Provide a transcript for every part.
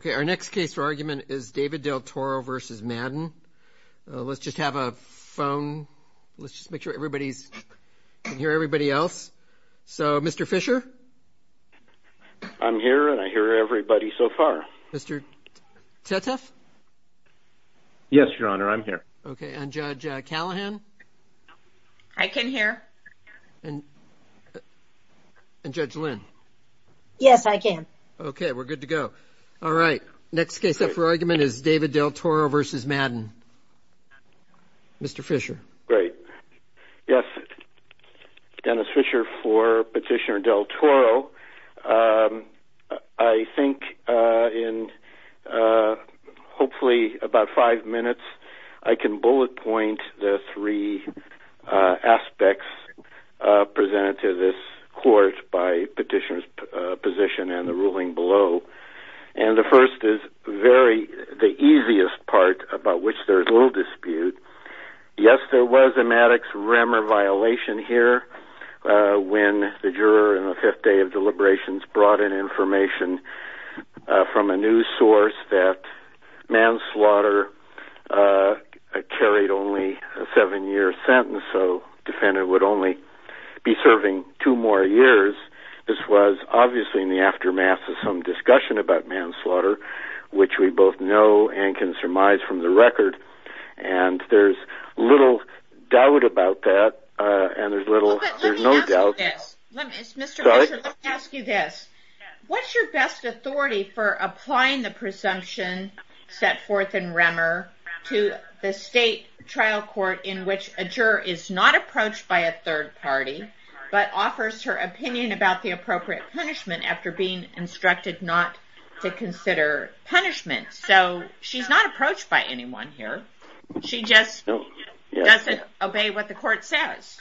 David Del Toro v. Raymond Madden David Del Toro v. Madden David Del Toro v. Madden David Del Toro v. Madden Yes, there was a Maddox-Remmer violation here when the juror in the fifth day of deliberations brought in information from a news source that manslaughter carried only a seven-year sentence, so the defendant would only be serving two more years. This was obviously in the aftermath of some discussion about manslaughter, which we both know and can surmise from the record, and there's little doubt about that. Let me ask you this. What's your best authority for applying the presumption set forth in Remmer to the state trial court in which a juror is not approached by a third party, but offers her opinion about the appropriate punishment after being instructed not to consider punishment? So she's not approached by anyone here. She just doesn't obey what the court says.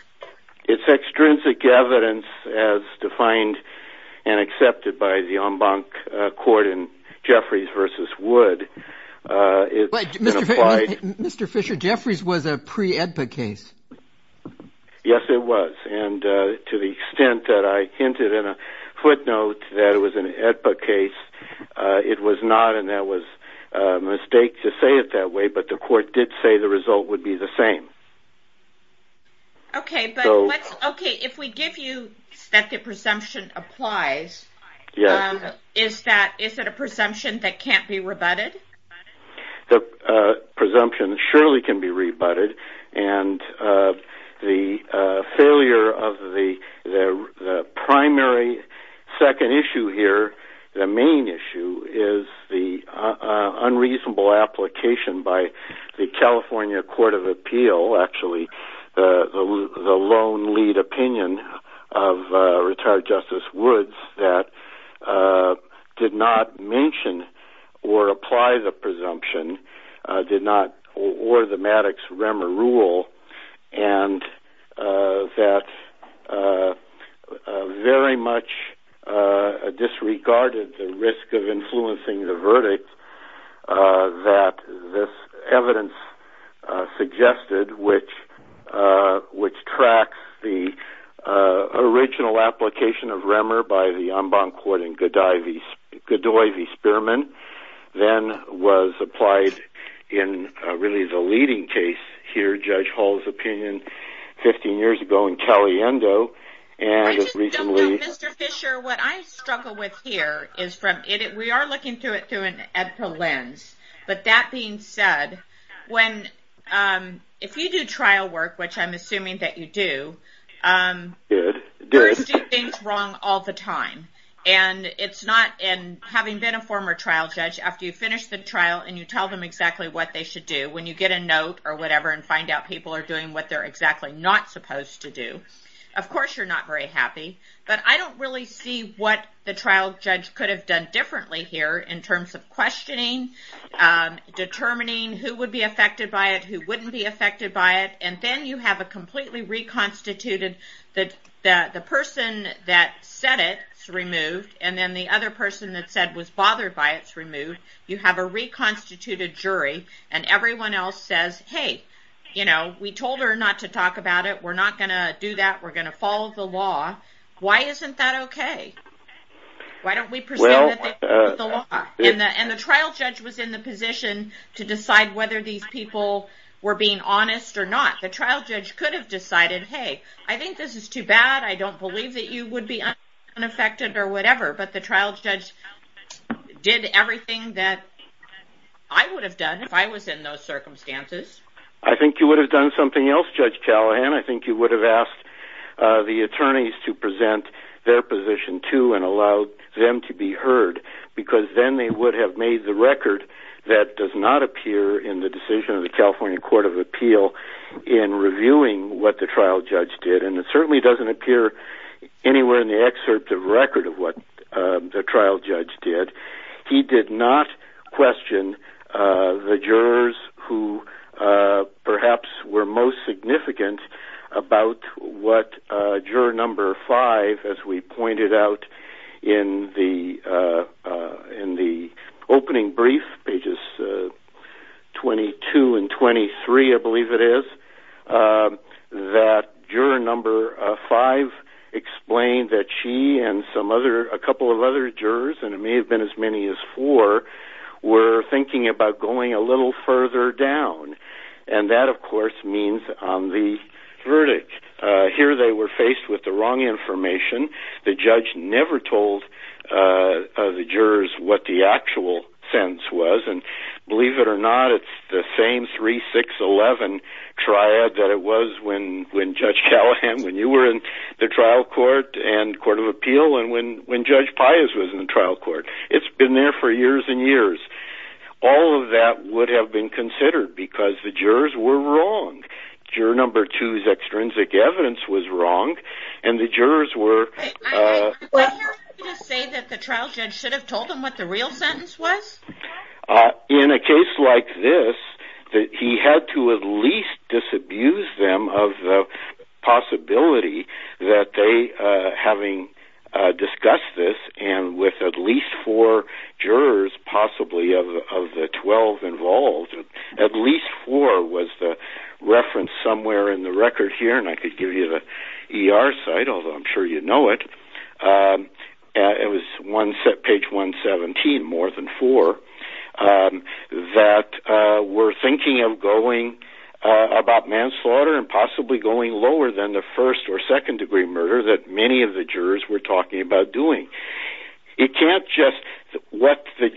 It's extrinsic evidence as defined and accepted by the en banc court in Jeffries v. Wood. Mr. Fisher, Jeffries was a pre-AEDPA case. Yes, it was, and to the extent that I hinted in a footnote that it was an AEDPA case, it was not, and that was a mistake to say it that way, but the court did say the result would be the same. Okay, but if we give you that the presumption applies, is it a presumption that can't be rebutted? The presumption surely can be rebutted, and the failure of the primary second issue here, the main issue, is the unreasonable application by the California Court of Appeal, actually, the lone lead opinion of retired Justice Woods that did not mention or apply the presumption, or the Maddox-Remmer rule, and that very much disregarded the risk of influencing the verdict that this evidence suggested, which tracks the original application of Remmer by the en banc court in Godoy v. Spearman, then was applied in, really, the leading case here, Judge Hall's opinion, 15 years ago in Caliendo. I just don't know, Mr. Fisher, what I struggle with here is from, we are looking through it through an AEDPA lens, but that being said, if you do trial work, which I'm assuming that you do, you're doing things wrong all the time, and it's not, having been a former trial judge, after you finish the trial and you tell them exactly what they should do, when you get a note or whatever and find out people are doing what they're exactly not supposed to do, of course you're not very happy, but I don't really see what the trial judge could have done differently here, in terms of questioning, determining who would be affected by it, who wouldn't be affected by it, and then you have a completely reconstituted, the person that said it's removed, and then the other person that said was bothered by it's removed, you have a reconstituted jury, and everyone else says, hey, we told her not to talk about it, we're not going to do that, we're going to follow the law, why isn't that okay? Why don't we presume that they followed the law? And the trial judge was in the position to decide whether these people were being honest or not. The trial judge could have decided, hey, I think this is too bad, I don't believe that you would be unaffected or whatever, but the trial judge did everything that I would have done if I was in those circumstances. I think you would have done something else, Judge Callahan, I think you would have asked the attorneys to present their position too, and allowed them to be heard, because then they would have made the record that does not appear in the decision of the California Court of Appeal in reviewing what the trial judge did, and it certainly doesn't appear anywhere in the excerpt of record of what the trial judge did. He did not question the jurors who perhaps were most significant about what juror number five, as we pointed out in the opening brief, pages 22 and 23, I believe it is, that juror number five explained that she and a couple of other jurors, and it may have been as many as four, were thinking about going a little further down. And that, of course, means on the verdict. Here they were faced with the wrong information, the judge never told the jurors what the actual sense was, and believe it or not, it's the same 3-6-11 triad that it was when Judge Callahan, when you were in the trial court and the Court of Appeal, and when Judge Pius was in the trial court. It's been there for years and years. All of that would have been considered, because the jurors were wrong. Juror number two's extrinsic evidence was wrong, and the jurors were... I hear you say that the trial judge should have told them what the real sentence was? In a case like this, he had to at least disabuse them of the possibility that they, having discussed this, and with at least four jurors possibly of the 12 involved, at least four was the reference somewhere in the record here, and I could give you the ER site, although I'm sure you know it, it was page 117, more than four, that were thinking of going about manslaughter and possibly going lower than the first or second degree murder that many of the jurors were talking about doing. It can't just... What the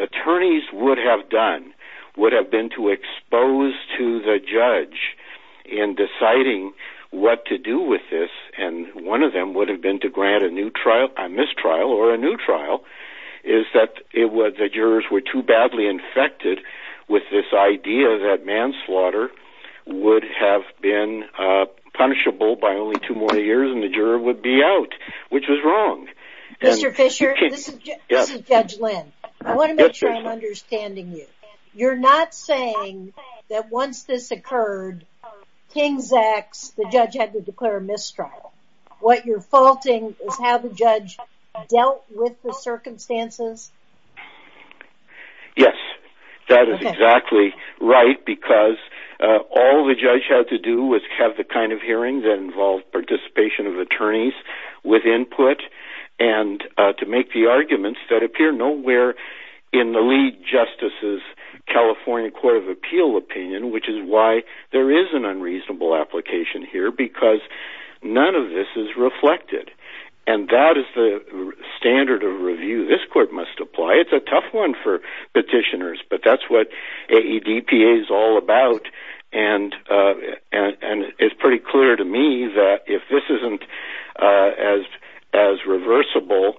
attorneys would have done, would have been to expose to the judge in deciding what to do with this, and one of them would have been to grant a mistrial or a new trial, is that the jurors were too badly infected with this idea that manslaughter would have been punishable by only two more years, and the juror would be out, which was wrong. Mr. Fisher, this is Judge Lynn. I want to make sure I'm understanding you. You're not saying that once this occurred, King's X, the judge had to declare a mistrial. What you're faulting is how the judge dealt with the circumstances? Yes, that is exactly right, because all the judge had to do was have the kind of hearing that involved participation of attorneys with input, and to make the arguments that appear nowhere in the lead justice's California Court of Appeal opinion, which is why there is an unreasonable application here, because none of this is reflected, and that is the standard of review. This court must apply. It's a tough one for petitioners, but that's what AEDPA is all about, and it's pretty clear to me that if this isn't as reversible,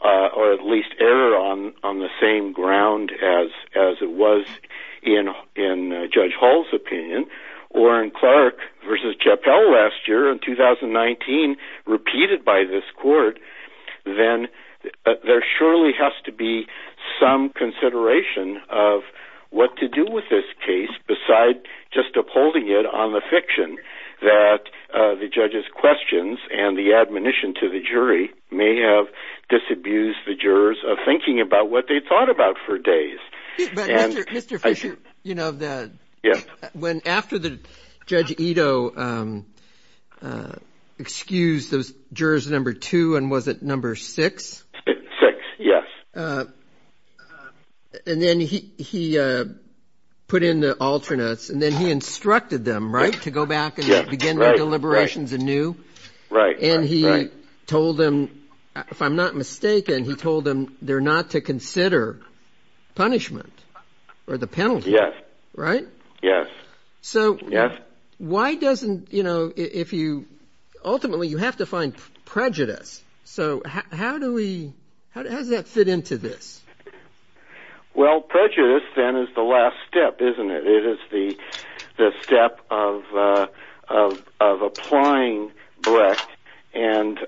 or at least error on the same ground as it was in Judge Hall's opinion, or in Clark v. Chappell last year in 2019, repeated by this court, then there surely has to be some consideration of what to do with this case besides just upholding it on the fiction that the judge's questions and the admonition to the jury may have disabused the jurors of thinking about what they thought about for days. Mr. Fisher, you know, when after Judge Ito excused those jurors number two, and was it number six? Six, yes. And then he put in the alternates, and then he instructed them, right, to go back and begin their deliberations anew? Right. And he told them, if I'm not mistaken, he told them they're not to consider punishment or the penalty. Yes. Right? Yes. So why doesn't, you know, ultimately you have to find prejudice, so how does that fit into this? Well, prejudice then is the last step, isn't it? It is the step of applying Brecht, and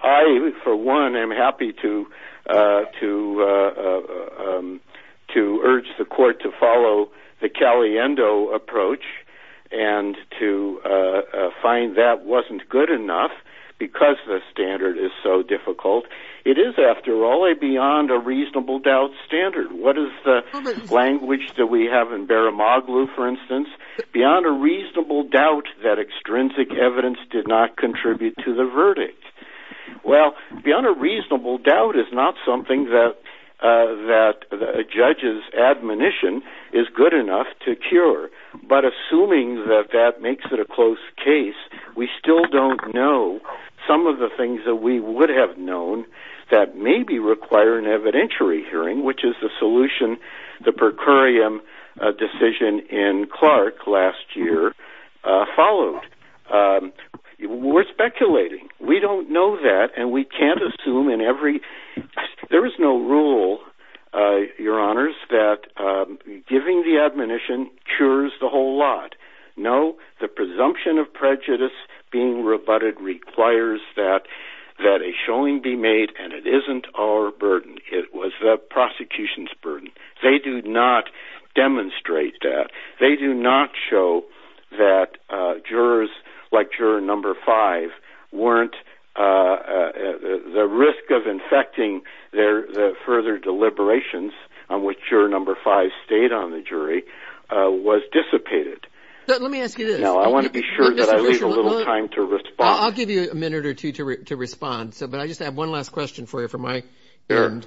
I for one am happy to urge the court to follow the Caliendo approach, and to find that wasn't good enough because the standard is so difficult. It is, after all, a beyond-a-reasonable-doubt standard. What is the language that we have in Baramoglu, for instance? Beyond a reasonable doubt that extrinsic evidence did not contribute to the verdict. Well, beyond a reasonable doubt is not something that a judge's admonition is good enough to cure, but assuming that that makes it a close case, we still don't know some of the things that we would have known that maybe require an evidentiary hearing, which is the solution the per curiam decision in Clark last year followed. We're speculating. We don't know that, and we can't assume in every... There is no rule, your honors, that giving the admonition cures the whole lot. No, the presumption of prejudice being rebutted requires that a showing be made, and it isn't our burden. It was the prosecution's burden. They do not demonstrate that. They do not show that jurors like juror number five weren't... The risk of infecting the further deliberations on which juror number five stayed on the jury was dissipated. Let me ask you this. No, I want to be sure that I leave a little time to respond. I'll give you a minute or two to respond, but I just have one last question for you for my end,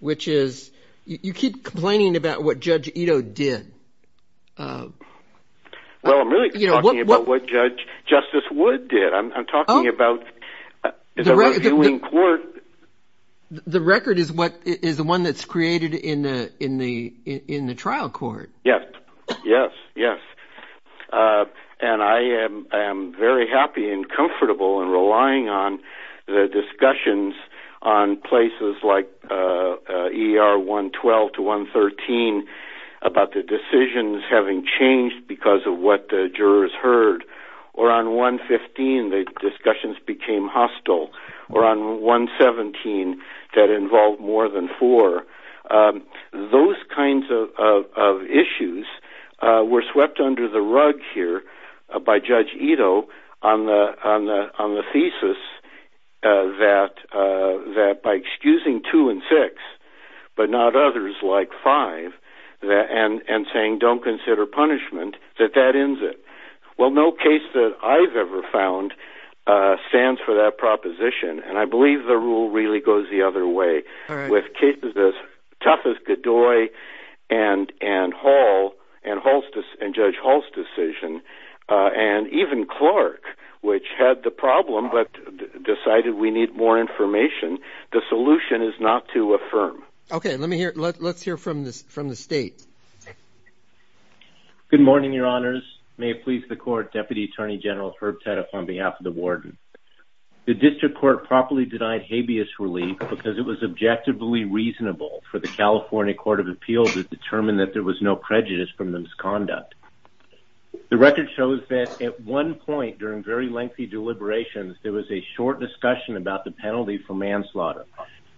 which is you keep complaining about what Judge Ito did. Well, I'm really talking about what Justice Wood did. I'm talking about... The record is the one that's created in the trial court. Yes, yes, yes. And I am very happy and comfortable in relying on the discussions on places like ER 112 to 113 about the decisions having changed because of what the jurors heard, or on 115 the discussions became hostile, or on 117 that involved more than four. Those kinds of issues were swept under the rug here by Judge Ito on the thesis that by excusing two and six, but not others like five, and saying don't consider punishment, that that ends it. Well, no case that I've ever found stands for that proposition, and I believe the rule really goes the other way. With cases as tough as Godoy and Hall and Judge Hall's decision, and even Clark, which had the problem but decided we need more information, the solution is not to affirm. Okay, let's hear from the State. Good morning, Your Honors. May it please the Court, Deputy Attorney General Herb Tette on behalf of the Warden. The District Court properly denied habeas relief because it was objectively reasonable for the California Court of Appeals to determine that there was no prejudice from the misconduct. The record shows that at one point during very lengthy deliberations, there was a short discussion about the penalty for manslaughter.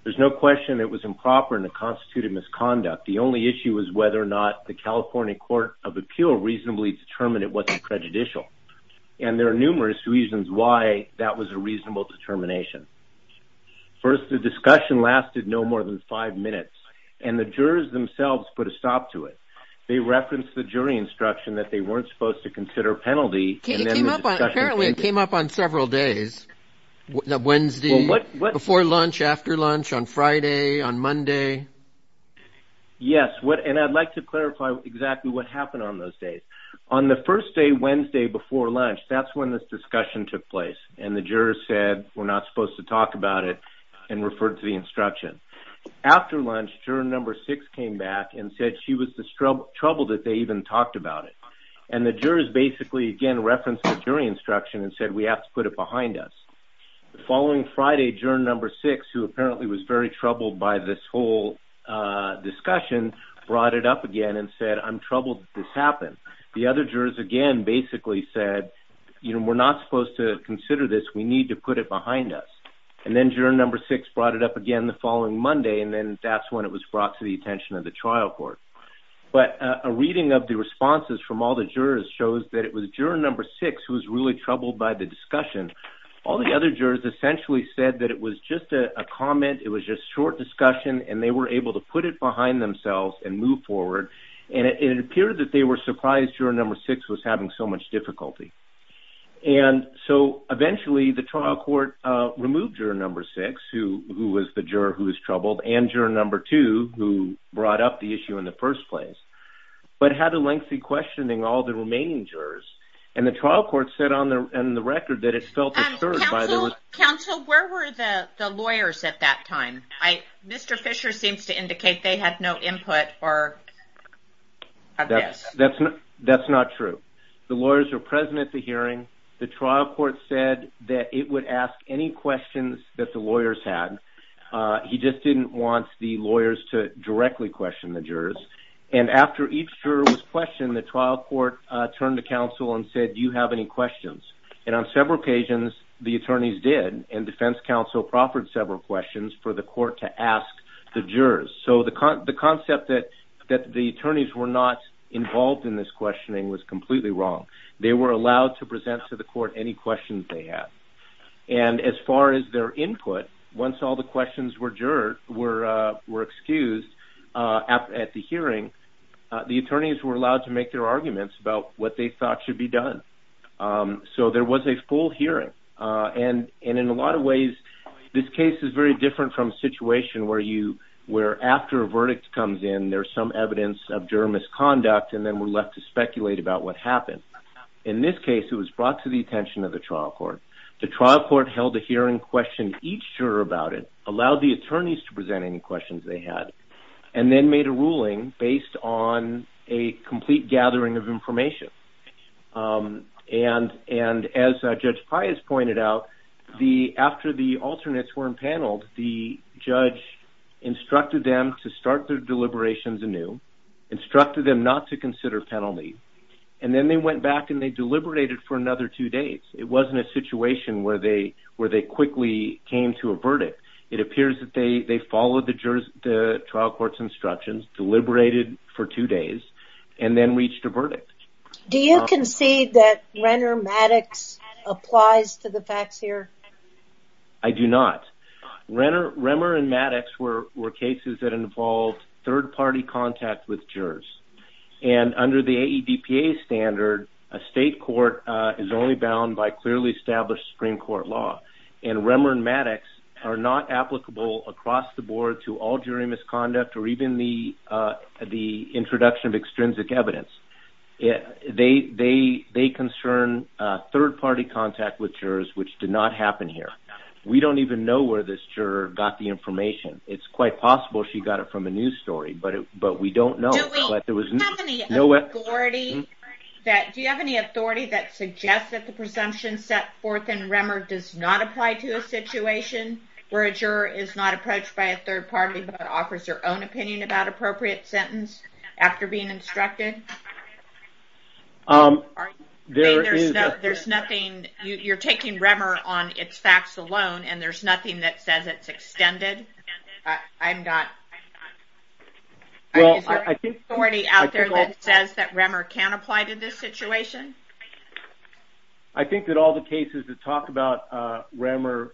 There's no question it was improper and a constituted misconduct. The only issue was whether or not the California Court of Appeals reasonably determined it wasn't prejudicial. And there are numerous reasons why that was a reasonable determination. First, the discussion lasted no more than five minutes, and the jurors themselves put a stop to it. They referenced the jury instruction that they weren't supposed to consider a penalty. Apparently it came up on several days, Wednesday, before lunch, after lunch, on Friday, on Monday. Yes, and I'd like to clarify exactly what happened on those days. On the first day, Wednesday, before lunch, that's when this discussion took place, and the jurors said we're not supposed to talk about it and referred to the instruction. After lunch, juror number six came back and said she was troubled that they even talked about it. And the jurors basically, again, referenced the jury instruction and said we have to put it behind us. The following Friday, juror number six, who apparently was very troubled by this whole discussion, brought it up again and said I'm troubled that this happened. The other jurors, again, basically said, you know, we're not supposed to consider this. We need to put it behind us. And then juror number six brought it up again the following Monday, and then that's when it was brought to the attention of the trial court. But a reading of the responses from all the jurors shows that it was juror number six who was really troubled by the discussion. All the other jurors essentially said that it was just a comment, it was just short discussion, and they were able to put it behind themselves and move forward. And it appeared that they were surprised juror number six was having so much difficulty. And so eventually the trial court removed juror number six, who was the juror who was troubled, and juror number two, who brought up the issue in the first place, but had a lengthy questioning all the remaining jurors. And the trial court said on the record that it felt disturbed by this. Counsel, where were the lawyers at that time? Mr. Fisher seems to indicate they had no input. That's not true. The lawyers were present at the hearing. The trial court said that it would ask any questions that the lawyers had. He just didn't want the lawyers to directly question the jurors. And after each juror was questioned, the trial court turned to counsel and said, do you have any questions? And on several occasions the attorneys did, and defense counsel proffered several questions for the court to ask the jurors. So the concept that the attorneys were not involved in this questioning was completely wrong. They were allowed to present to the court any questions they had. And as far as their input, once all the questions were excused at the hearing, the attorneys were allowed to make their arguments about what they thought should be done. So there was a full hearing. And in a lot of ways, this case is very different from a situation where after a verdict comes in, there's some evidence of juror misconduct and then we're left to speculate about what happened. In this case, it was brought to the attention of the trial court. The trial court held a hearing, questioned each juror about it, allowed the attorneys to present any questions they had, and then made a ruling based on a complete gathering of information. And as Judge Pius pointed out, after the alternates were impaneled, the judge instructed them to start their deliberations anew, instructed them not to consider penalty, and then they went back and they deliberated for another two days. It wasn't a situation where they quickly came to a verdict. It appears that they followed the trial court's instructions, deliberated for two days, and then reached a verdict. Do you concede that Remmer and Maddox applies to the facts here? I do not. Remmer and Maddox were cases that involved third-party contact with jurors. And under the AEDPA standard, a state court is only bound by clearly established Supreme Court law. And Remmer and Maddox are not applicable across the board to all jury misconduct or even the introduction of extrinsic evidence. They concern third-party contact with jurors, which did not happen here. We don't even know where this juror got the information. It's quite possible she got it from a news story, but we don't know. Do you have any authority that suggests that the presumption set forth in Remmer does not apply to a situation where a juror is not approached by a third party but offers their own opinion about appropriate sentence after being instructed? Are you saying there's nothing? You're taking Remmer on its facts alone, and there's nothing that says it's extended? I'm not. Is there any authority out there that says that Remmer can apply to this situation? I think that all the cases that talk about Remmer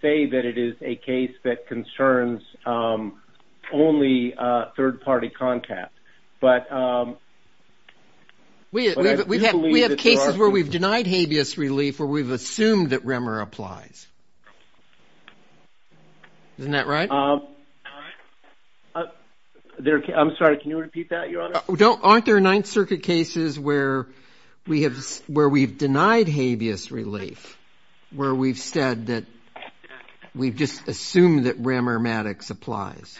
say that it is a case that concerns only third-party contact. We have cases where we've denied habeas relief where we've assumed that Remmer applies. Isn't that right? Aren't there Ninth Circuit cases where we've denied habeas relief where we've said that we've just assumed that Remmermatics applies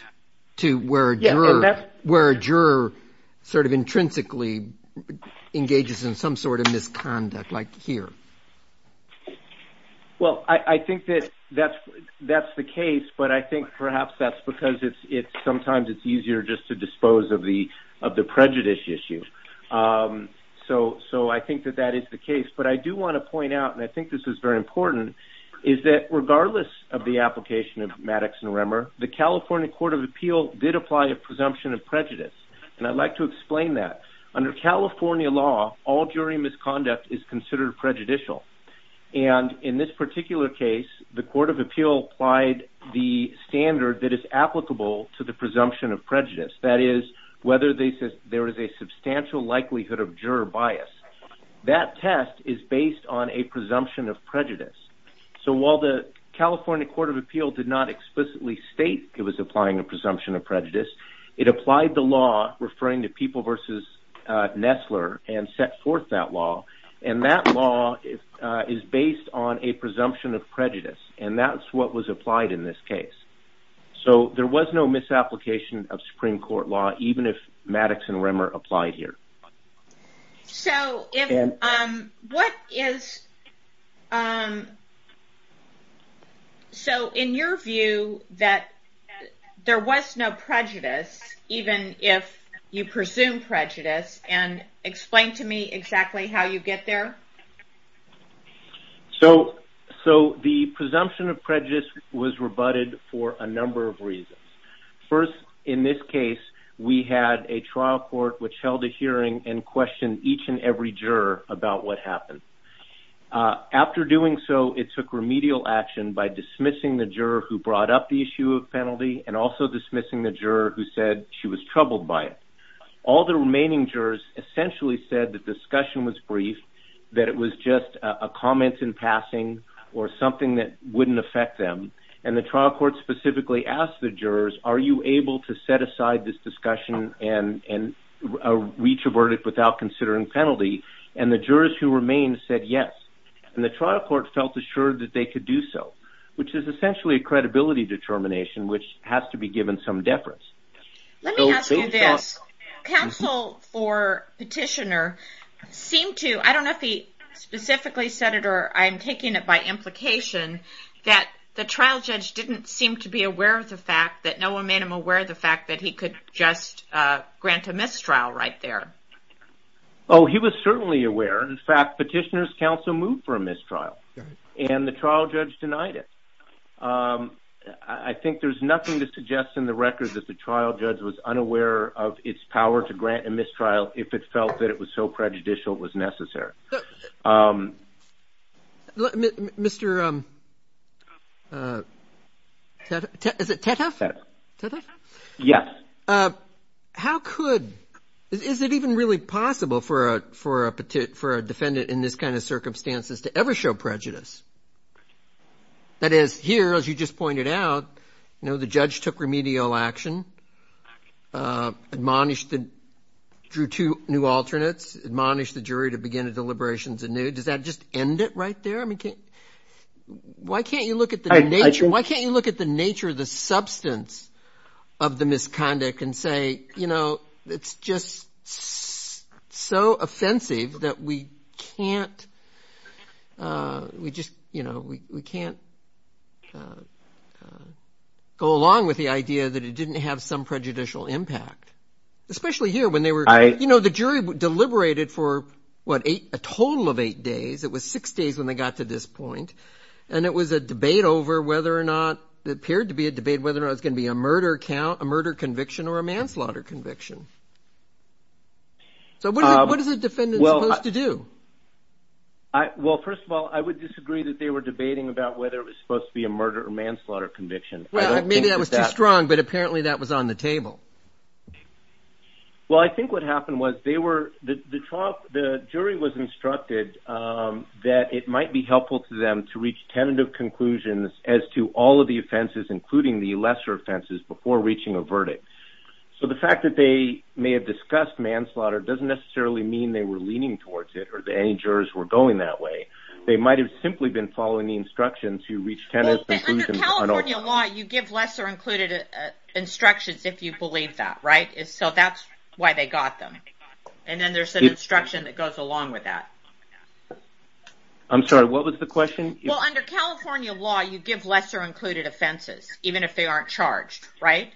to where a juror sort of intrinsically engages in some sort of misconduct, like here? Well, I think that that's the case, but I think perhaps that's because sometimes it's easier just to dispose of the prejudice issue. So I think that that is the case, but I do want to point out, and I think this is very important, is that regardless of the application of Maddox and Remmer, the California Court of Appeal did apply a presumption of prejudice, and I'd like to explain that. Under California law, all jury misconduct is considered prejudicial, and in this particular case, the Court of Appeal applied the standard that is applicable to the presumption of prejudice, that is, whether there is a substantial likelihood of juror bias. That test is based on a presumption of prejudice. So while the California Court of Appeal did not explicitly state it was applying a presumption of prejudice, it applied the law referring to People v. Nestler and set forth that law, and that law is based on a presumption of prejudice, and that's what was applied in this case. So there was no misapplication of Supreme Court law, even if Maddox and Remmer applied here. So in your view that there was no prejudice, even if you presume prejudice, and explain to me exactly how you get there? So the presumption of prejudice was rebutted for a number of reasons. First, in this case, we had a trial court which held a hearing and questioned each and every juror about what happened. After doing so, it took remedial action by dismissing the juror who brought up the issue of penalty and also dismissing the juror who said she was troubled by it. All the remaining jurors essentially said the discussion was brief, that it was just a comment in passing or something that wouldn't affect them, and the trial court specifically asked the jurors, are you able to set aside this discussion and reach a verdict without considering penalty? And the jurors who remained said yes, and the trial court felt assured that they could do so, which is essentially a credibility determination which has to be given some deference. Let me ask you this, counsel for petitioner seemed to, I don't know if he specifically said it or I'm taking it by implication, that the trial judge didn't seem to be aware of the fact that, no one made him aware of the fact that he could just grant a mistrial right there. Oh, he was certainly aware. In fact, petitioner's counsel moved for a mistrial, and the trial judge denied it. I think there's nothing to suggest in the record that the trial judge was unaware of its power to grant a mistrial if it felt that it was so prejudicial it was necessary. Mr. Teteff, is it Teteff? Teteff? Yes. How could, is it even really possible for a defendant in this kind of circumstances to ever show prejudice? That is, here, as you just pointed out, you know, the judge took remedial action, admonished the, drew two new alternates, admonished the jury to begin a deliberations anew. Does that just end it right there? I mean, why can't you look at the nature, why can't you look at the nature of the substance of the misconduct and say, you know, it's just so offensive that we can't, we just, you know, we can't go along with the idea that it didn't have some prejudicial impact, especially here when they were, you know, the jury deliberated for, what, a total of eight days. It was six days when they got to this point, and it was a debate over whether or not, it appeared to be a debate whether or not it was going to be a murder conviction or a manslaughter conviction. So what is a defendant supposed to do? Well, first of all, I would disagree that they were debating about whether it was supposed to be a murder or manslaughter conviction. Well, maybe that was too strong, but apparently that was on the table. Well, I think what happened was they were, the jury was instructed that it might be helpful to them to reach tentative conclusions as to all of the offenses, including the lesser offenses, before reaching a verdict. So the fact that they may have discussed manslaughter doesn't necessarily mean they were leaning towards it or that any jurors were going that way. They might have simply been following the instructions to reach tentative conclusions. Well, under California law, you give lesser included instructions if you believe that, right? So that's why they got them, and then there's an instruction that goes along with that. I'm sorry, what was the question? Well, under California law, you give lesser included offenses, even if they aren't charged, right?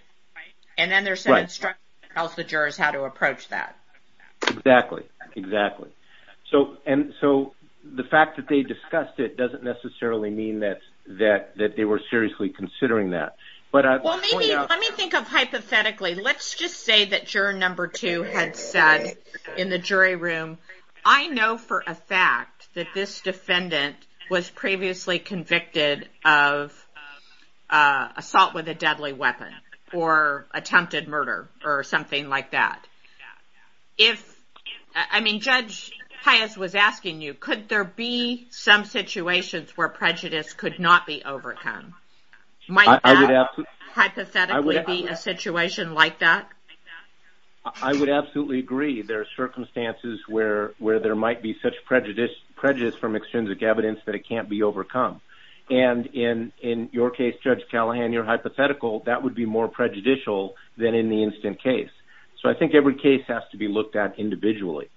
And then there's an instruction that tells the jurors how to approach that. Exactly, exactly. So the fact that they discussed it doesn't necessarily mean that they were seriously considering that. Well, maybe, let me think of it hypothetically. Let's just say that juror number two had said in the jury room, I know for a fact that this defendant was previously convicted of assault with a deadly weapon or attempted murder or something like that. If, I mean, Judge Pius was asking you, could there be some situations where prejudice could not be overcome? Might that hypothetically be a situation like that? I would absolutely agree. There are circumstances where there might be such prejudice from extrinsic evidence that it can't be overcome. And in your case, Judge Callahan, your hypothetical, that would be more prejudicial than in the instant case. So I think every case has to be looked at individually.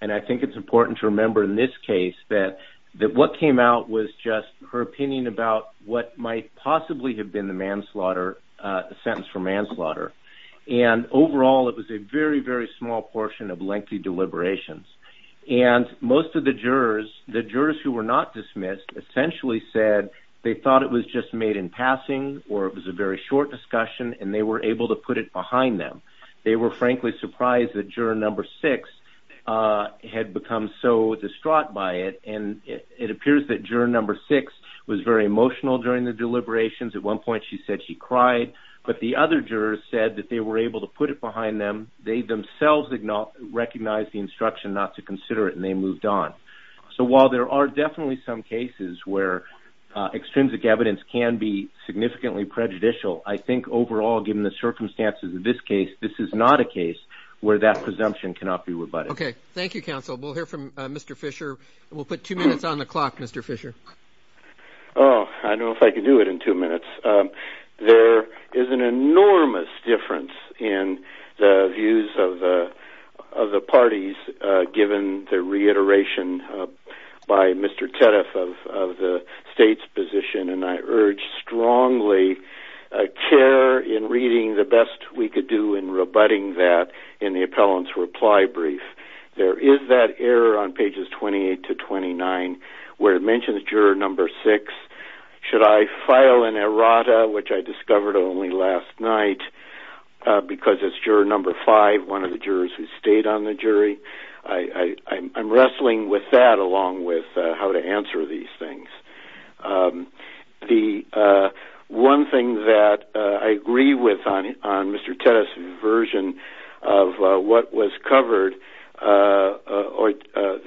And I think it's important to remember in this case that what came out was just her opinion about what might possibly have been the manslaughter, the sentence for manslaughter. And overall, it was a very, very small portion of lengthy deliberations. And most of the jurors, the jurors who were not dismissed, essentially said they thought it was just made in passing or it was a very short discussion, and they were able to put it behind them. They were frankly surprised that juror number six had become so distraught by it. And it appears that juror number six was very emotional during the deliberations. At one point, she said she cried. But the other jurors said that they were able to put it behind them. They themselves recognized the instruction not to consider it, and they moved on. So while there are definitely some cases where extrinsic evidence can be significantly prejudicial, I think overall, given the circumstances of this case, this is not a case where that presumption cannot be rebutted. Okay. Thank you, counsel. We'll hear from Mr. Fisher. We'll put two minutes on the clock, Mr. Fisher. Oh, I don't know if I can do it in two minutes. There is an enormous difference in the views of the parties given the reiteration by Mr. Tediff of the state's position, and I urge strongly a care in reading the best we could do in rebutting that in the appellant's reply brief. There is that error on pages 28 to 29 where it mentions juror number six. Should I file an errata, which I discovered only last night because it's juror number five, one of the jurors who stayed on the jury? I'm wrestling with that along with how to answer these things. The one thing that I agree with on Mr. Tediff's version of what was covered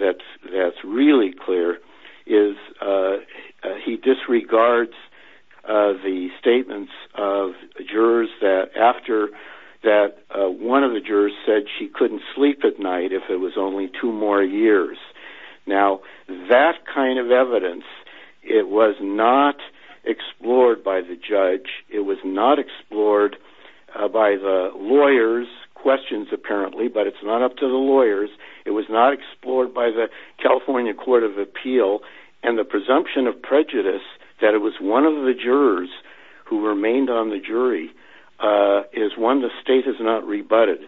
that's really clear is he disregards the statements of jurors that after that one of the jurors said she couldn't sleep at night if it was only two more years. Now, that kind of evidence, it was not explored by the judge. It was not explored by the lawyers' questions, apparently, but it's not up to the lawyers. It was not explored by the California Court of Appeal. And the presumption of prejudice that it was one of the jurors who remained on the jury is one the state has not rebutted,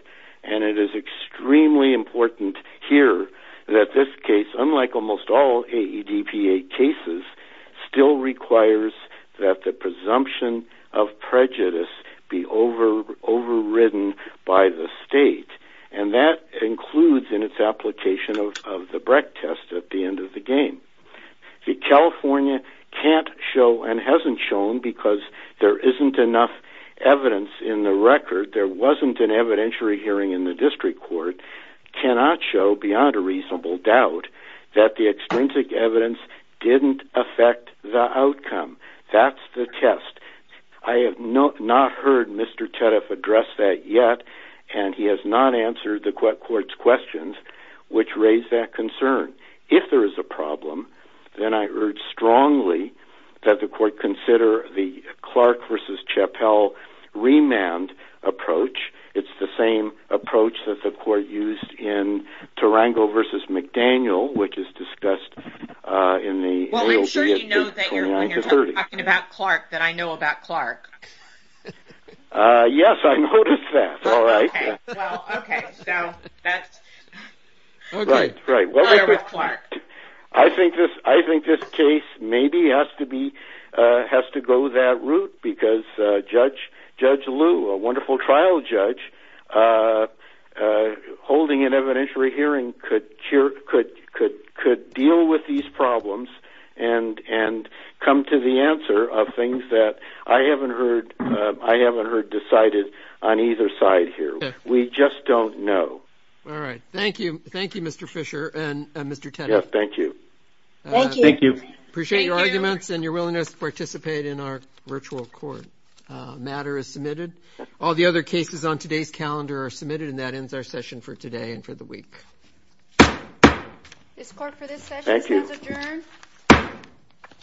and it is extremely important here that this case, unlike almost all AEDPA cases, still requires that the presumption of prejudice be overridden by the state, and that includes in its application of the Brecht test at the end of the game. See, California can't show and hasn't shown because there isn't enough evidence in the record. There wasn't an evidentiary hearing in the district court. It cannot show beyond a reasonable doubt that the extrinsic evidence didn't affect the outcome. That's the test. I have not heard Mr. Tediff address that yet, and he has not answered the court's questions which raise that concern. If there is a problem, then I urge strongly that the court consider the Clark v. Chappell remand approach. It's the same approach that the court used in Tarango v. McDaniel, which is discussed in the real BFJ 29-30. Well, I'm sure you know when you're talking about Clark that I know about Clark. Yes, I noticed that. All right. Okay. Well, okay. So that's Clark. I think this case maybe has to go that route because Judge Liu, a wonderful trial judge, holding an evidentiary hearing could deal with these problems and come to the answer of things that I haven't heard decided on either side here. We just don't know. All right. Thank you. Thank you, Mr. Fisher and Mr. Tediff. Yes, thank you. Thank you. Thank you. Appreciate your arguments and your willingness to participate in our virtual court matter as submitted. All the other cases on today's calendar are submitted, and that ends our session for today and for the week. This court for this session stands adjourned. Thank you.